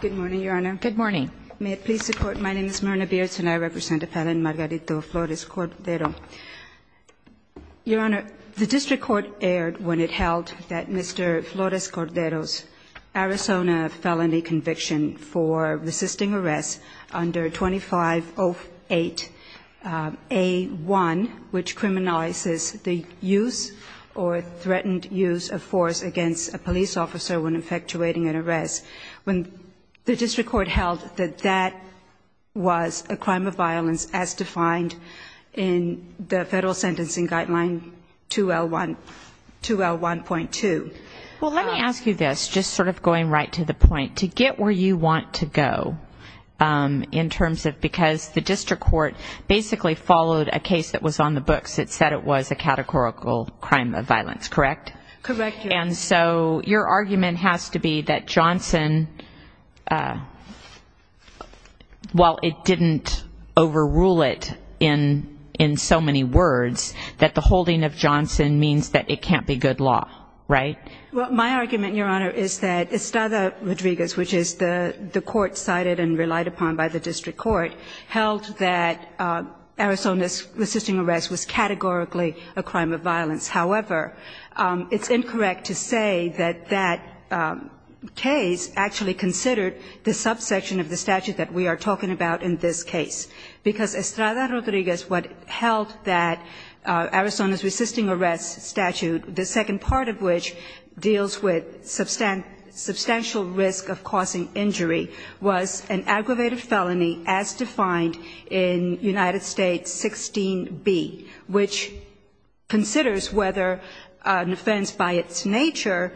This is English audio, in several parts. Good morning, Your Honor. Good morning. May it please the Court, my name is Myrna Beards and I represent Appellant Margarito Flores-Cordero. Your Honor, the District Court aired when it held that Mr. Flores-Cordero's Arizona felony conviction for resisting arrest under 2508A1, which criminalizes the use or threatened use of force against a police officer when effectuating an arrest. When the District Court held that that was a crime of violence as defined in the Federal Sentencing Guideline 2L1.2. Well, let me ask you this, just sort of going right to the point, to get where you want to go in terms of, because the District Court basically followed a case that was on the books that said it was a categorical crime of violence, correct? Correct, Your Honor. And so your argument has to be that Johnson, while it didn't overrule it in so many words, that the holding of Johnson means that it can't be good law, right? Well, my argument, Your Honor, is that Estrada Rodriguez, which is the court cited and relied upon by the District Court, held that Arizona's resisting arrest was categorically a crime of violence. However, it's incorrect to say that that case actually considered the subsection of the statute that we are talking about in this case. Because Estrada Rodriguez, what held that Arizona's resisting arrest statute, the second part of which deals with substantial risk of causing injury, was an aggravated felony as defined in United States 16B, which considers whether an offense by its nature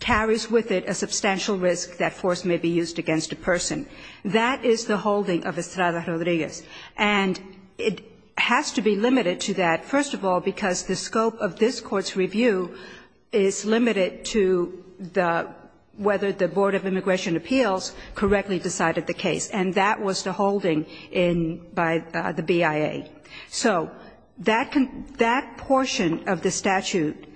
carries with it a substantial risk that force may be used against a person. That is the holding of Estrada Rodriguez. And it has to be limited to that, first of all, because the scope of this Court's review is limited to whether the Board of Immigration Appeals correctly decided the case. And that was the holding by the BIA. So that portion of the statute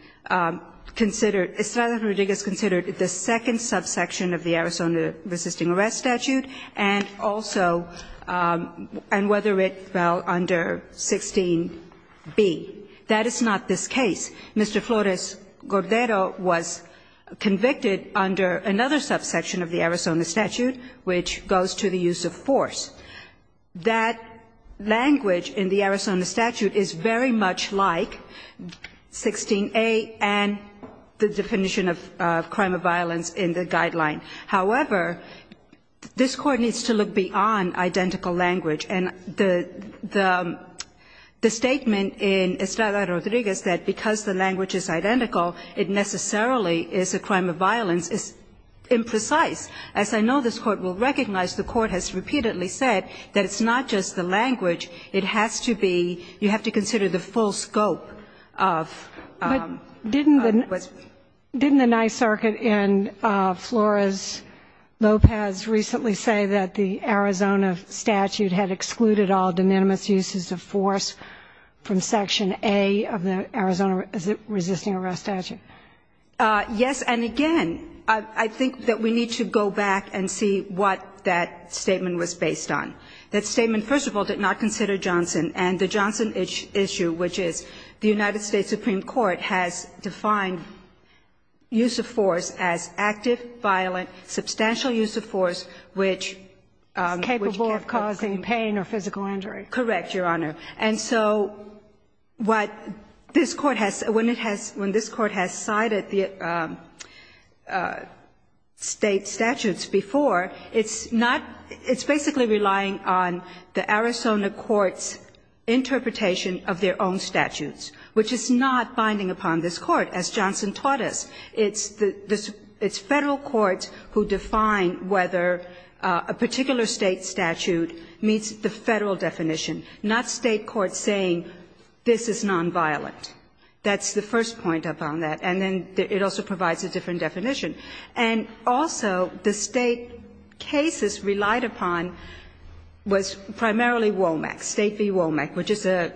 considered – Estrada Rodriguez considered the second subsection of the Arizona resisting arrest statute and also – and whether it fell under 16B. That is not this case. Mr. Flores-Gordero was convicted under another subsection of the Arizona statute, which goes to the use of force. That language in the Arizona statute is very much like 16A and the definition of crime of violence in the guideline. However, this Court needs to look beyond identical language. And the statement in Estrada Rodriguez that because the language is identical, it necessarily is a crime of violence is imprecise. As I know this Court will recognize, the Court has repeatedly said that it's not just the language. It has to be – you have to consider the full scope of what's – But didn't the Nye circuit and Flores-Lopez recently say that the Arizona statute had excluded all de minimis uses of force from section A of the Arizona resisting arrest statute? Yes. And again, I think that we need to go back and see what that statement was based on. That statement, first of all, did not consider Johnson. And the Johnson issue, which is the United States Supreme Court has defined use of force as active, violent, substantial use of force which can't cause pain or physical injury. Correct, Your Honor. And so what this Court has – when it has – when this Court has cited the State statutes before, it's not – it's basically relying on the Arizona court's interpretation of their own statutes, which is not binding upon this Court, as Johnson taught us. It's the – it's Federal courts who define whether a particular State statute meets the Federal definition, not State courts saying this is nonviolent. That's the first point upon that. And then it also provides a different definition. And also, the State cases relied upon was primarily WOMAC, State v. WOMAC, which is an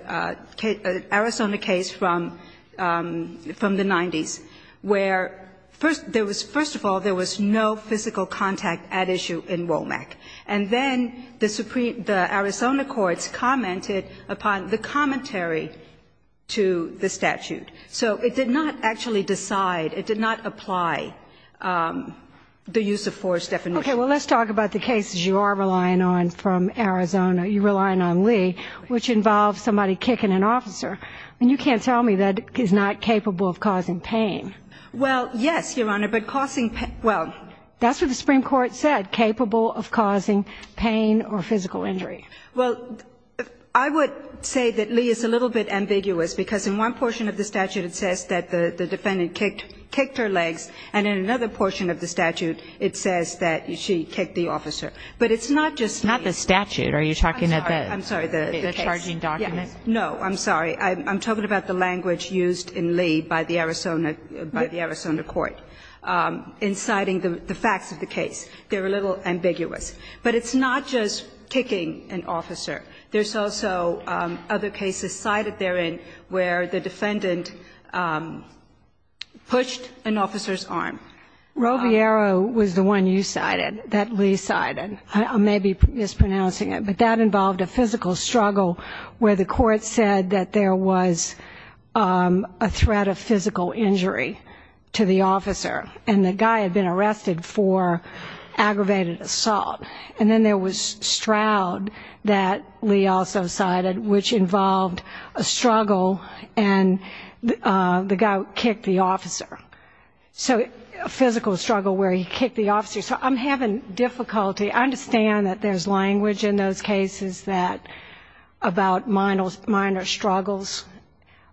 Arizona case from the 90s, where first – there was – first of all, there was no physical contact at issue in WOMAC. And then the Arizona courts commented upon the commentary to the statute. So it did not actually decide – it did not apply the use of force definition. Okay. Well, let's talk about the cases you are relying on from Arizona. You're relying on Lee, which involves somebody kicking an officer. I mean, you can't tell me that is not capable of causing pain. Well, yes, Your Honor, but causing – well, that's what the Supreme Court said, capable of causing pain or physical injury. Well, I would say that Lee is a little bit ambiguous, because in one portion of the statute it says that the defendant kicked her legs, and in another portion of the statute it says that she kicked the officer. But it's not just Lee. It's not the statute. Are you talking about the case? I'm sorry. The charging document? No, I'm sorry. I'm talking about the language used in Lee by the Arizona – by the Arizona court inciting the facts of the case. They're a little ambiguous. But it's not just kicking an officer. There's also other cases cited therein where the defendant pushed an officer's arm. Roviero was the one you cited that Lee cited. I may be mispronouncing it. But that involved a physical struggle where the court said that there was a threat of physical injury to the officer. And the guy had been arrested for aggravated assault. And then there was Stroud that Lee also cited, which involved a struggle and the guy kicked the officer. So a physical struggle where he kicked the officer. So I'm having difficulty. I understand that there's language in those cases that – about minor struggles.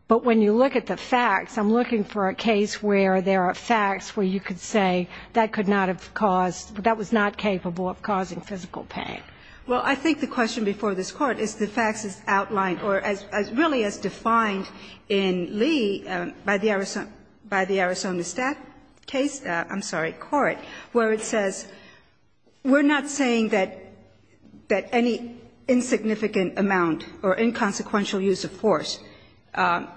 But when you look at the facts, I'm looking for a case where there are facts where you could say that could not have caused – that was not capable of causing physical pain. Well, I think the question before this Court is the facts as outlined or as – really as defined in Lee by the Arizona – by the Arizona stat case – I'm sorry, court, where it says we're not saying that any insignificant amount or inconsequential use of force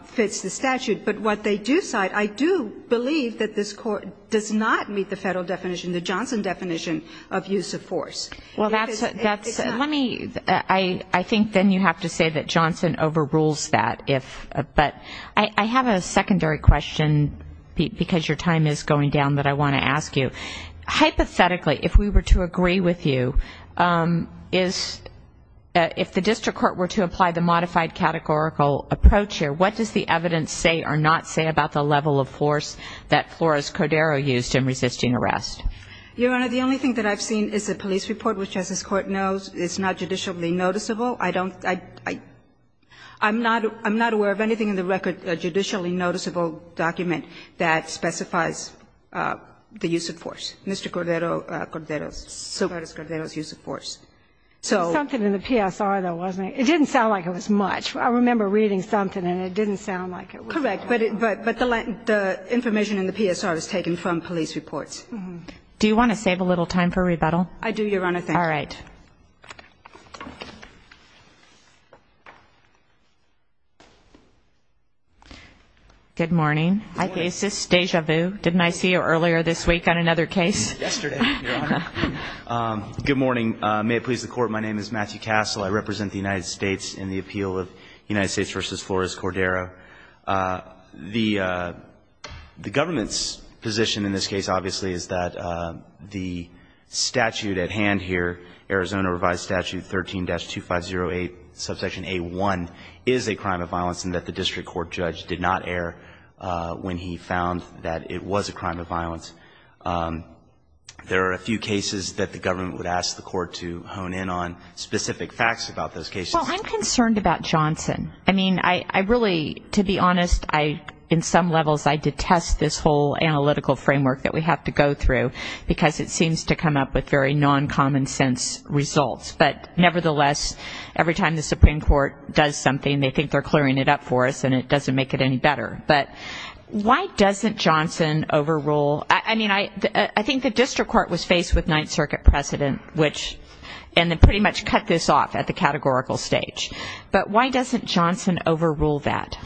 fits the statute. But what they do cite, I do believe that this Court does not meet the federal definition, the Johnson definition of use of force. Well, that's – let me – I think then you have to say that Johnson overrules that. But I have a secondary question because your time is going down that I want to ask you. Hypothetically, if we were to agree with you, is – if the district court were to apply the modified categorical approach here, what does the evidence say or not say about the level of force that Flores-Cordero used in resisting arrest? Your Honor, the only thing that I've seen is a police report which, as this Court knows, is not judicially noticeable. I don't – I'm not – I'm not aware of anything in the record, a judicially noticeable document that specifies the use of force, Mr. Cordero – Cordero's use of force. Something in the PSR, though, wasn't it? It didn't sound like it was much. I remember reading something and it didn't sound like it was much. Correct. But the information in the PSR is taken from police reports. Do you want to save a little time for rebuttal? I do, Your Honor. Thank you. All right. Good morning. Didn't I see you earlier this week on another case? Yesterday, Your Honor. Good morning. May it please the Court, my name is Matthew Castle. I represent the United States in the appeal of United States v. Flores-Cordero. The government's position in this case, obviously, is that the statute at hand here, Arizona Revised Statute 13-2508, subsection A1, is a crime of violence and that the district court judge did not err when he found that it was a crime of violence. There are a few cases that the government would ask the court to hone in on specific facts about those cases. Well, I'm concerned about Johnson. I mean, I really, to be honest, in some levels, I detest this whole analytical framework that we have to go through because it seems to come up with very non-common sense results. But nevertheless, every time the Supreme Court does something, they think they're clearing it up for us and it doesn't make it any better. But why doesn't Johnson overrule? I mean, I think the district court was faced with Ninth Circuit precedent, which pretty much cut this off at the categorical stage. But why doesn't Johnson overrule that?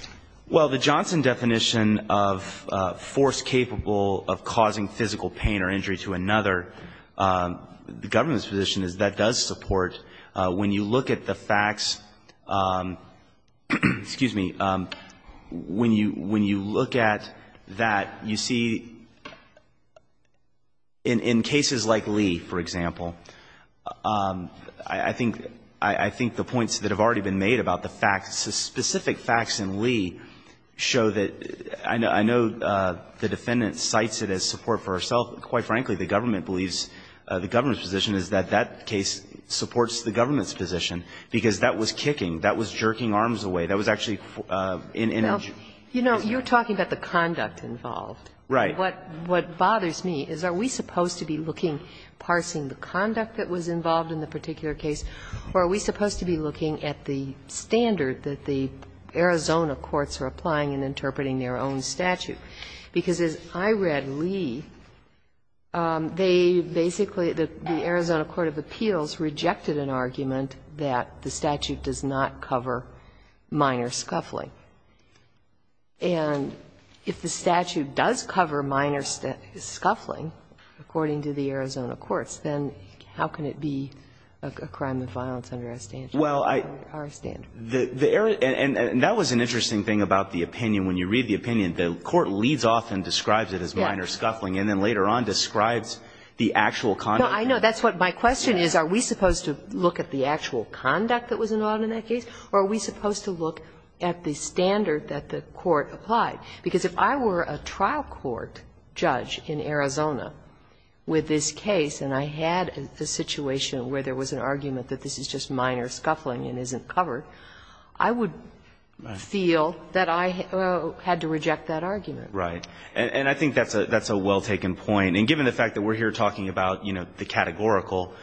Well, the Johnson definition of force capable of causing physical pain or injury to another, the government's position is that does support. When you look at the facts, excuse me, when you look at that, you see in cases like Lee, for example, I think the points that have already been made about the facts, the specific facts in Lee show that I know the defendant cites it as support for herself. Quite frankly, the government believes the government's position is that that case supports the government's position, because that was kicking. That was jerking arms away. That was actually an image. Ginsburg. You know, you're talking about the conduct involved. Right. What bothers me is are we supposed to be looking, parsing the conduct that was involved in the particular case, or are we supposed to be looking at the standard that the Arizona courts are applying and interpreting their own statute? Because as I read Lee, they basically, the Arizona court of appeals rejected an argument that the statute does not cover minor scuffling. And if the statute does cover minor scuffling, according to the Arizona courts, then how can it be a crime of violence under our standard? Our standard. And that was an interesting thing about the opinion. When you read the opinion, the court leads off and describes it as minor scuffling and then later on describes the actual conduct. No, I know. That's what my question is. Are we supposed to look at the actual conduct that was involved in that case, or are we supposed to look at the standard that the court applied? Because if I were a trial court judge in Arizona with this case and I had a situation where there was an argument that this is just minor scuffling and isn't covered, I would feel that I had to reject that argument. Right. And I think that's a well-taken point. And given the fact that we're here talking about the categorical,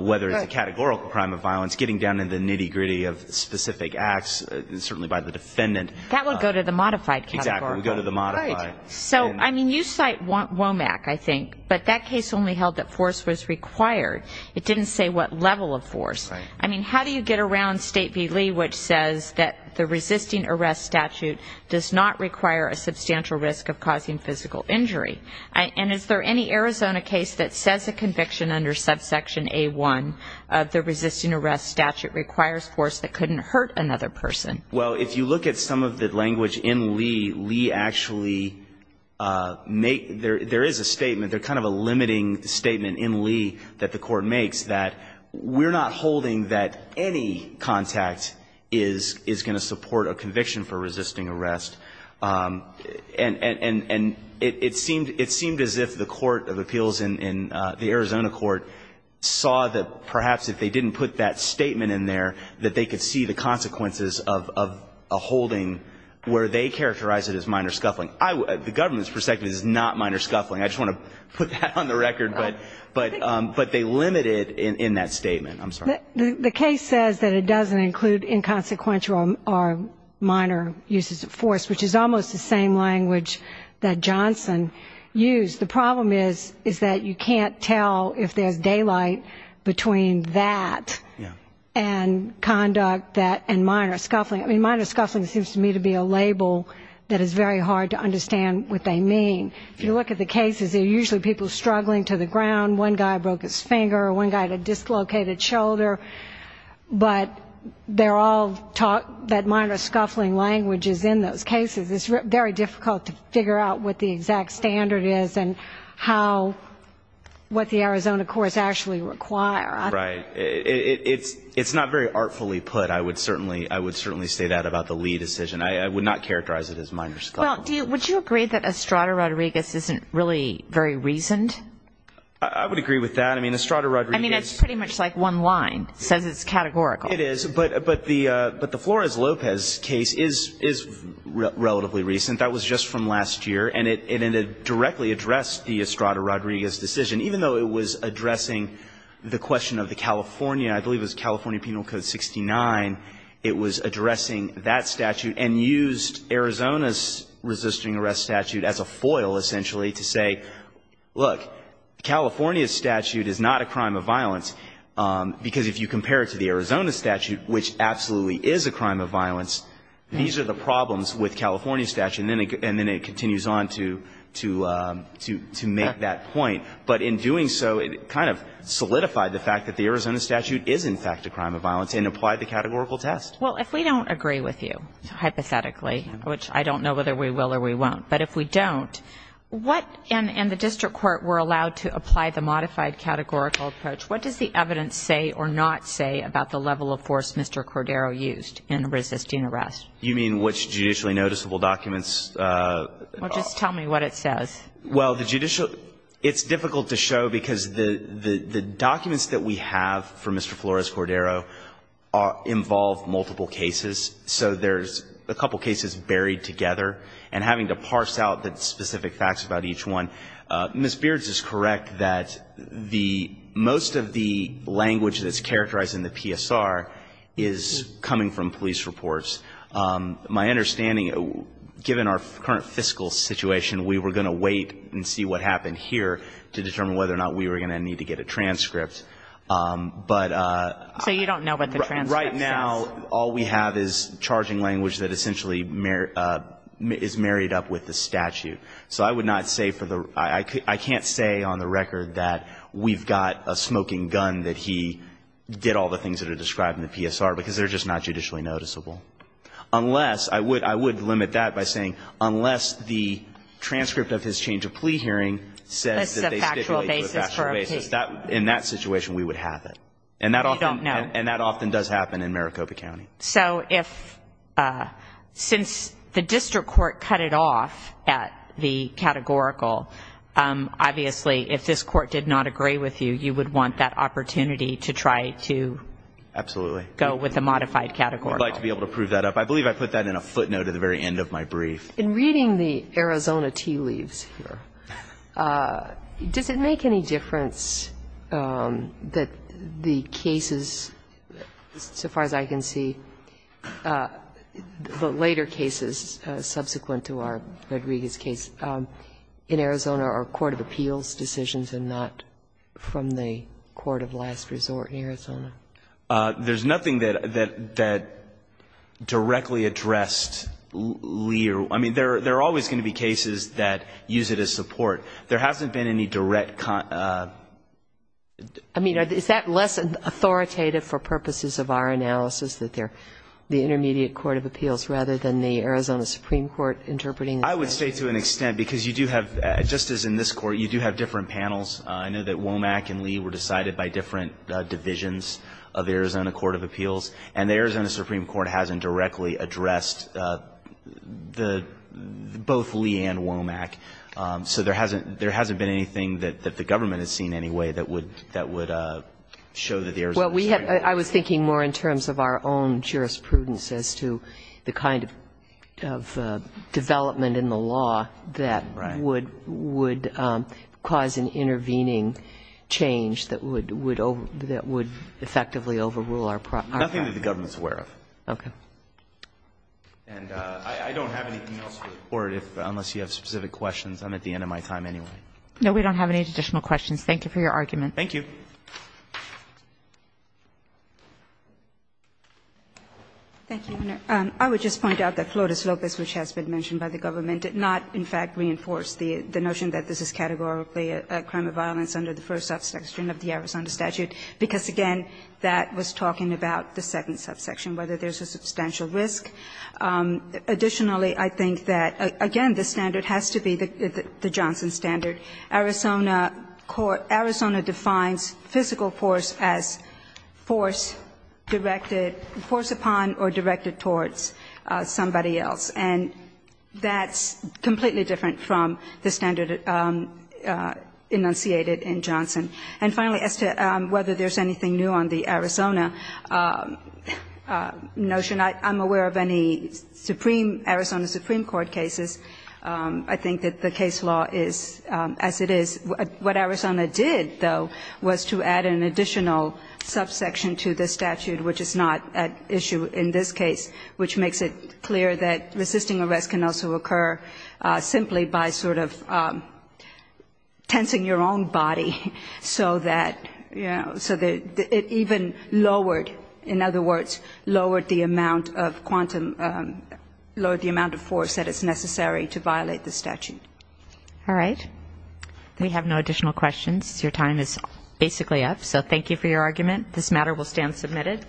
whether it's a categorical crime of violence, getting down to the nitty-gritty of specific acts, certainly by the defendant. That would go to the modified categorical. Exactly. It would go to the modified. Right. So, I mean, you cite WOMAC, I think, but that case only held that force was required. It didn't say what level of force. Right. I mean, how do you get around State v. Lee, which says that the resisting arrest statute does not require a substantial risk of causing physical injury? And is there any Arizona case that says a conviction under subsection A-1 of the resisting arrest statute requires force that couldn't hurt another person? Well, if you look at some of the language in Lee, Lee actually make there is a statement, there's kind of a limiting statement in Lee that the court makes that we're not holding that any contact is going to support a conviction for resisting arrest. And it seemed as if the court of appeals in the Arizona court saw that perhaps if they didn't put that statement in there, that they could see the consequences of a holding where they characterized it as minor scuffling. The government's perspective is not minor scuffling. I just want to put that on the record. Right. But they limit it in that statement. I'm sorry. The case says that it doesn't include inconsequential or minor uses of force, which is almost the same language that Johnson used. The problem is, is that you can't tell if there's daylight between that and conduct and minor scuffling. I mean, minor scuffling seems to me to be a label that is very hard to understand what they mean. If you look at the cases, they're usually people struggling to the ground. One guy broke his finger. One guy had a dislocated shoulder. But they're all that minor scuffling language is in those cases. It's very difficult to figure out what the exact standard is and how what the Arizona courts actually require. Right. It's not very artfully put. I would certainly say that about the Lee decision. I would not characterize it as minor scuffling. Well, would you agree that Estrada-Rodriguez isn't really very reasoned? I would agree with that. I mean, Estrada-Rodriguez. I mean, it's pretty much like one line. It says it's categorical. It is. But the Flores-Lopez case is relatively recent. That was just from last year. And it directly addressed the Estrada-Rodriguez decision, even though it was addressing the question of the California, I believe it was California Penal Code 69. It was addressing that statute and used Arizona's resisting arrest statute as a foil, essentially, to say, look, California's statute is not a crime of violence, because if you compare it to the Arizona statute, which absolutely is a crime of violence, these are the problems with California's statute. And then it continues on to make that point. But in doing so, it kind of solidified the fact that the Arizona statute is, in fact, a crime of violence and applied the categorical test. Well, if we don't agree with you, hypothetically, which I don't know whether we will or we won't, but if we don't, what and the district court were allowed to apply the modified categorical approach, what does the evidence say or not say about the level of force Mr. Cordero used in resisting arrest? You mean which judicially noticeable documents? Well, just tell me what it says. Well, the judicial ‑‑ it's difficult to show because the documents that we have for Mr. Flores Cordero involve multiple cases. So there's a couple cases buried together, and having to parse out the specific facts about each one. Ms. Beards is correct that the ‑‑ most of the language that's characterized in the PSR is coming from police reports. My understanding, given our current fiscal situation, we were going to wait and see what happened here to determine whether or not we were going to need to get a transcript. But ‑‑ So you don't know what the transcript says? Right now, all we have is charging language that essentially is married up with the statute. So I would not say for the ‑‑ I can't say on the record that we've got a smoking gun that he did all the things that are described in the PSR, because they're just not judicially noticeable. Unless, I would limit that by saying, unless the transcript of his change of plea hearing says that they stipulated a factual basis. In that situation, we would have it. You don't know. And that often does happen in Maricopa County. So if ‑‑ since the district court cut it off at the categorical, obviously, if this court did not agree with you, you would want that opportunity to try to go with a modified categorical. Absolutely. I'd like to be able to prove that up. I believe I put that in a footnote at the very end of my brief. In reading the Arizona tea leaves here, does it make any difference that the cases so far as I can see, the later cases subsequent to our Rodriguez case in Arizona are court of appeals decisions and not from the court of last resort in Arizona? There's nothing that directly addressed Lee. I mean, there are always going to be cases that use it as support. There hasn't been any direct ‑‑ I mean, is that less authoritative for purposes of our analysis, that they're the intermediate court of appeals rather than the Arizona Supreme Court interpreting it? I would say to an extent, because you do have, just as in this Court, you do have different panels. I know that Womack and Lee were decided by different divisions of the Arizona court of appeals. And the Arizona Supreme Court hasn't directly addressed both Lee and Womack. So there hasn't been anything that the government has seen anyway that would show that the Arizona Supreme Court ‑‑ Well, I was thinking more in terms of our own jurisprudence as to the kind of development in the law that would cause an intervening change that would effectively overrule our ‑‑ Nothing that the government is aware of. Okay. And I don't have anything else for the Court unless you have specific questions. I'm at the end of my time anyway. No, we don't have any additional questions. Thank you for your argument. Thank you. Thank you, Your Honor. I would just point out that Flores Lopez, which has been mentioned by the government, did not, in fact, reinforce the notion that this is categorically a crime of violence under the first subsection of the Arizona statute, because, again, that was talking about the second subsection, whether there's a substantial risk. Additionally, I think that, again, the standard has to be the Johnson standard. Arizona defines physical force as force directed ‑‑ force upon or directed towards somebody else, and that's completely different from the standard enunciated in Johnson. And finally, as to whether there's anything new on the Arizona notion, I'm aware of any Supreme ‑‑ Arizona Supreme Court cases. I think that the case law is as it is. What Arizona did, though, was to add an additional subsection to the statute, which is not at issue in this case, which makes it clear that resisting arrest can also occur simply by sort of tensing your own body so that, you know, so that it even lowered, in other words, lowered the amount of force that is necessary to violate the statute. All right. We have no additional questions. Your time is basically up. So thank you for your argument. This matter will stand submitted.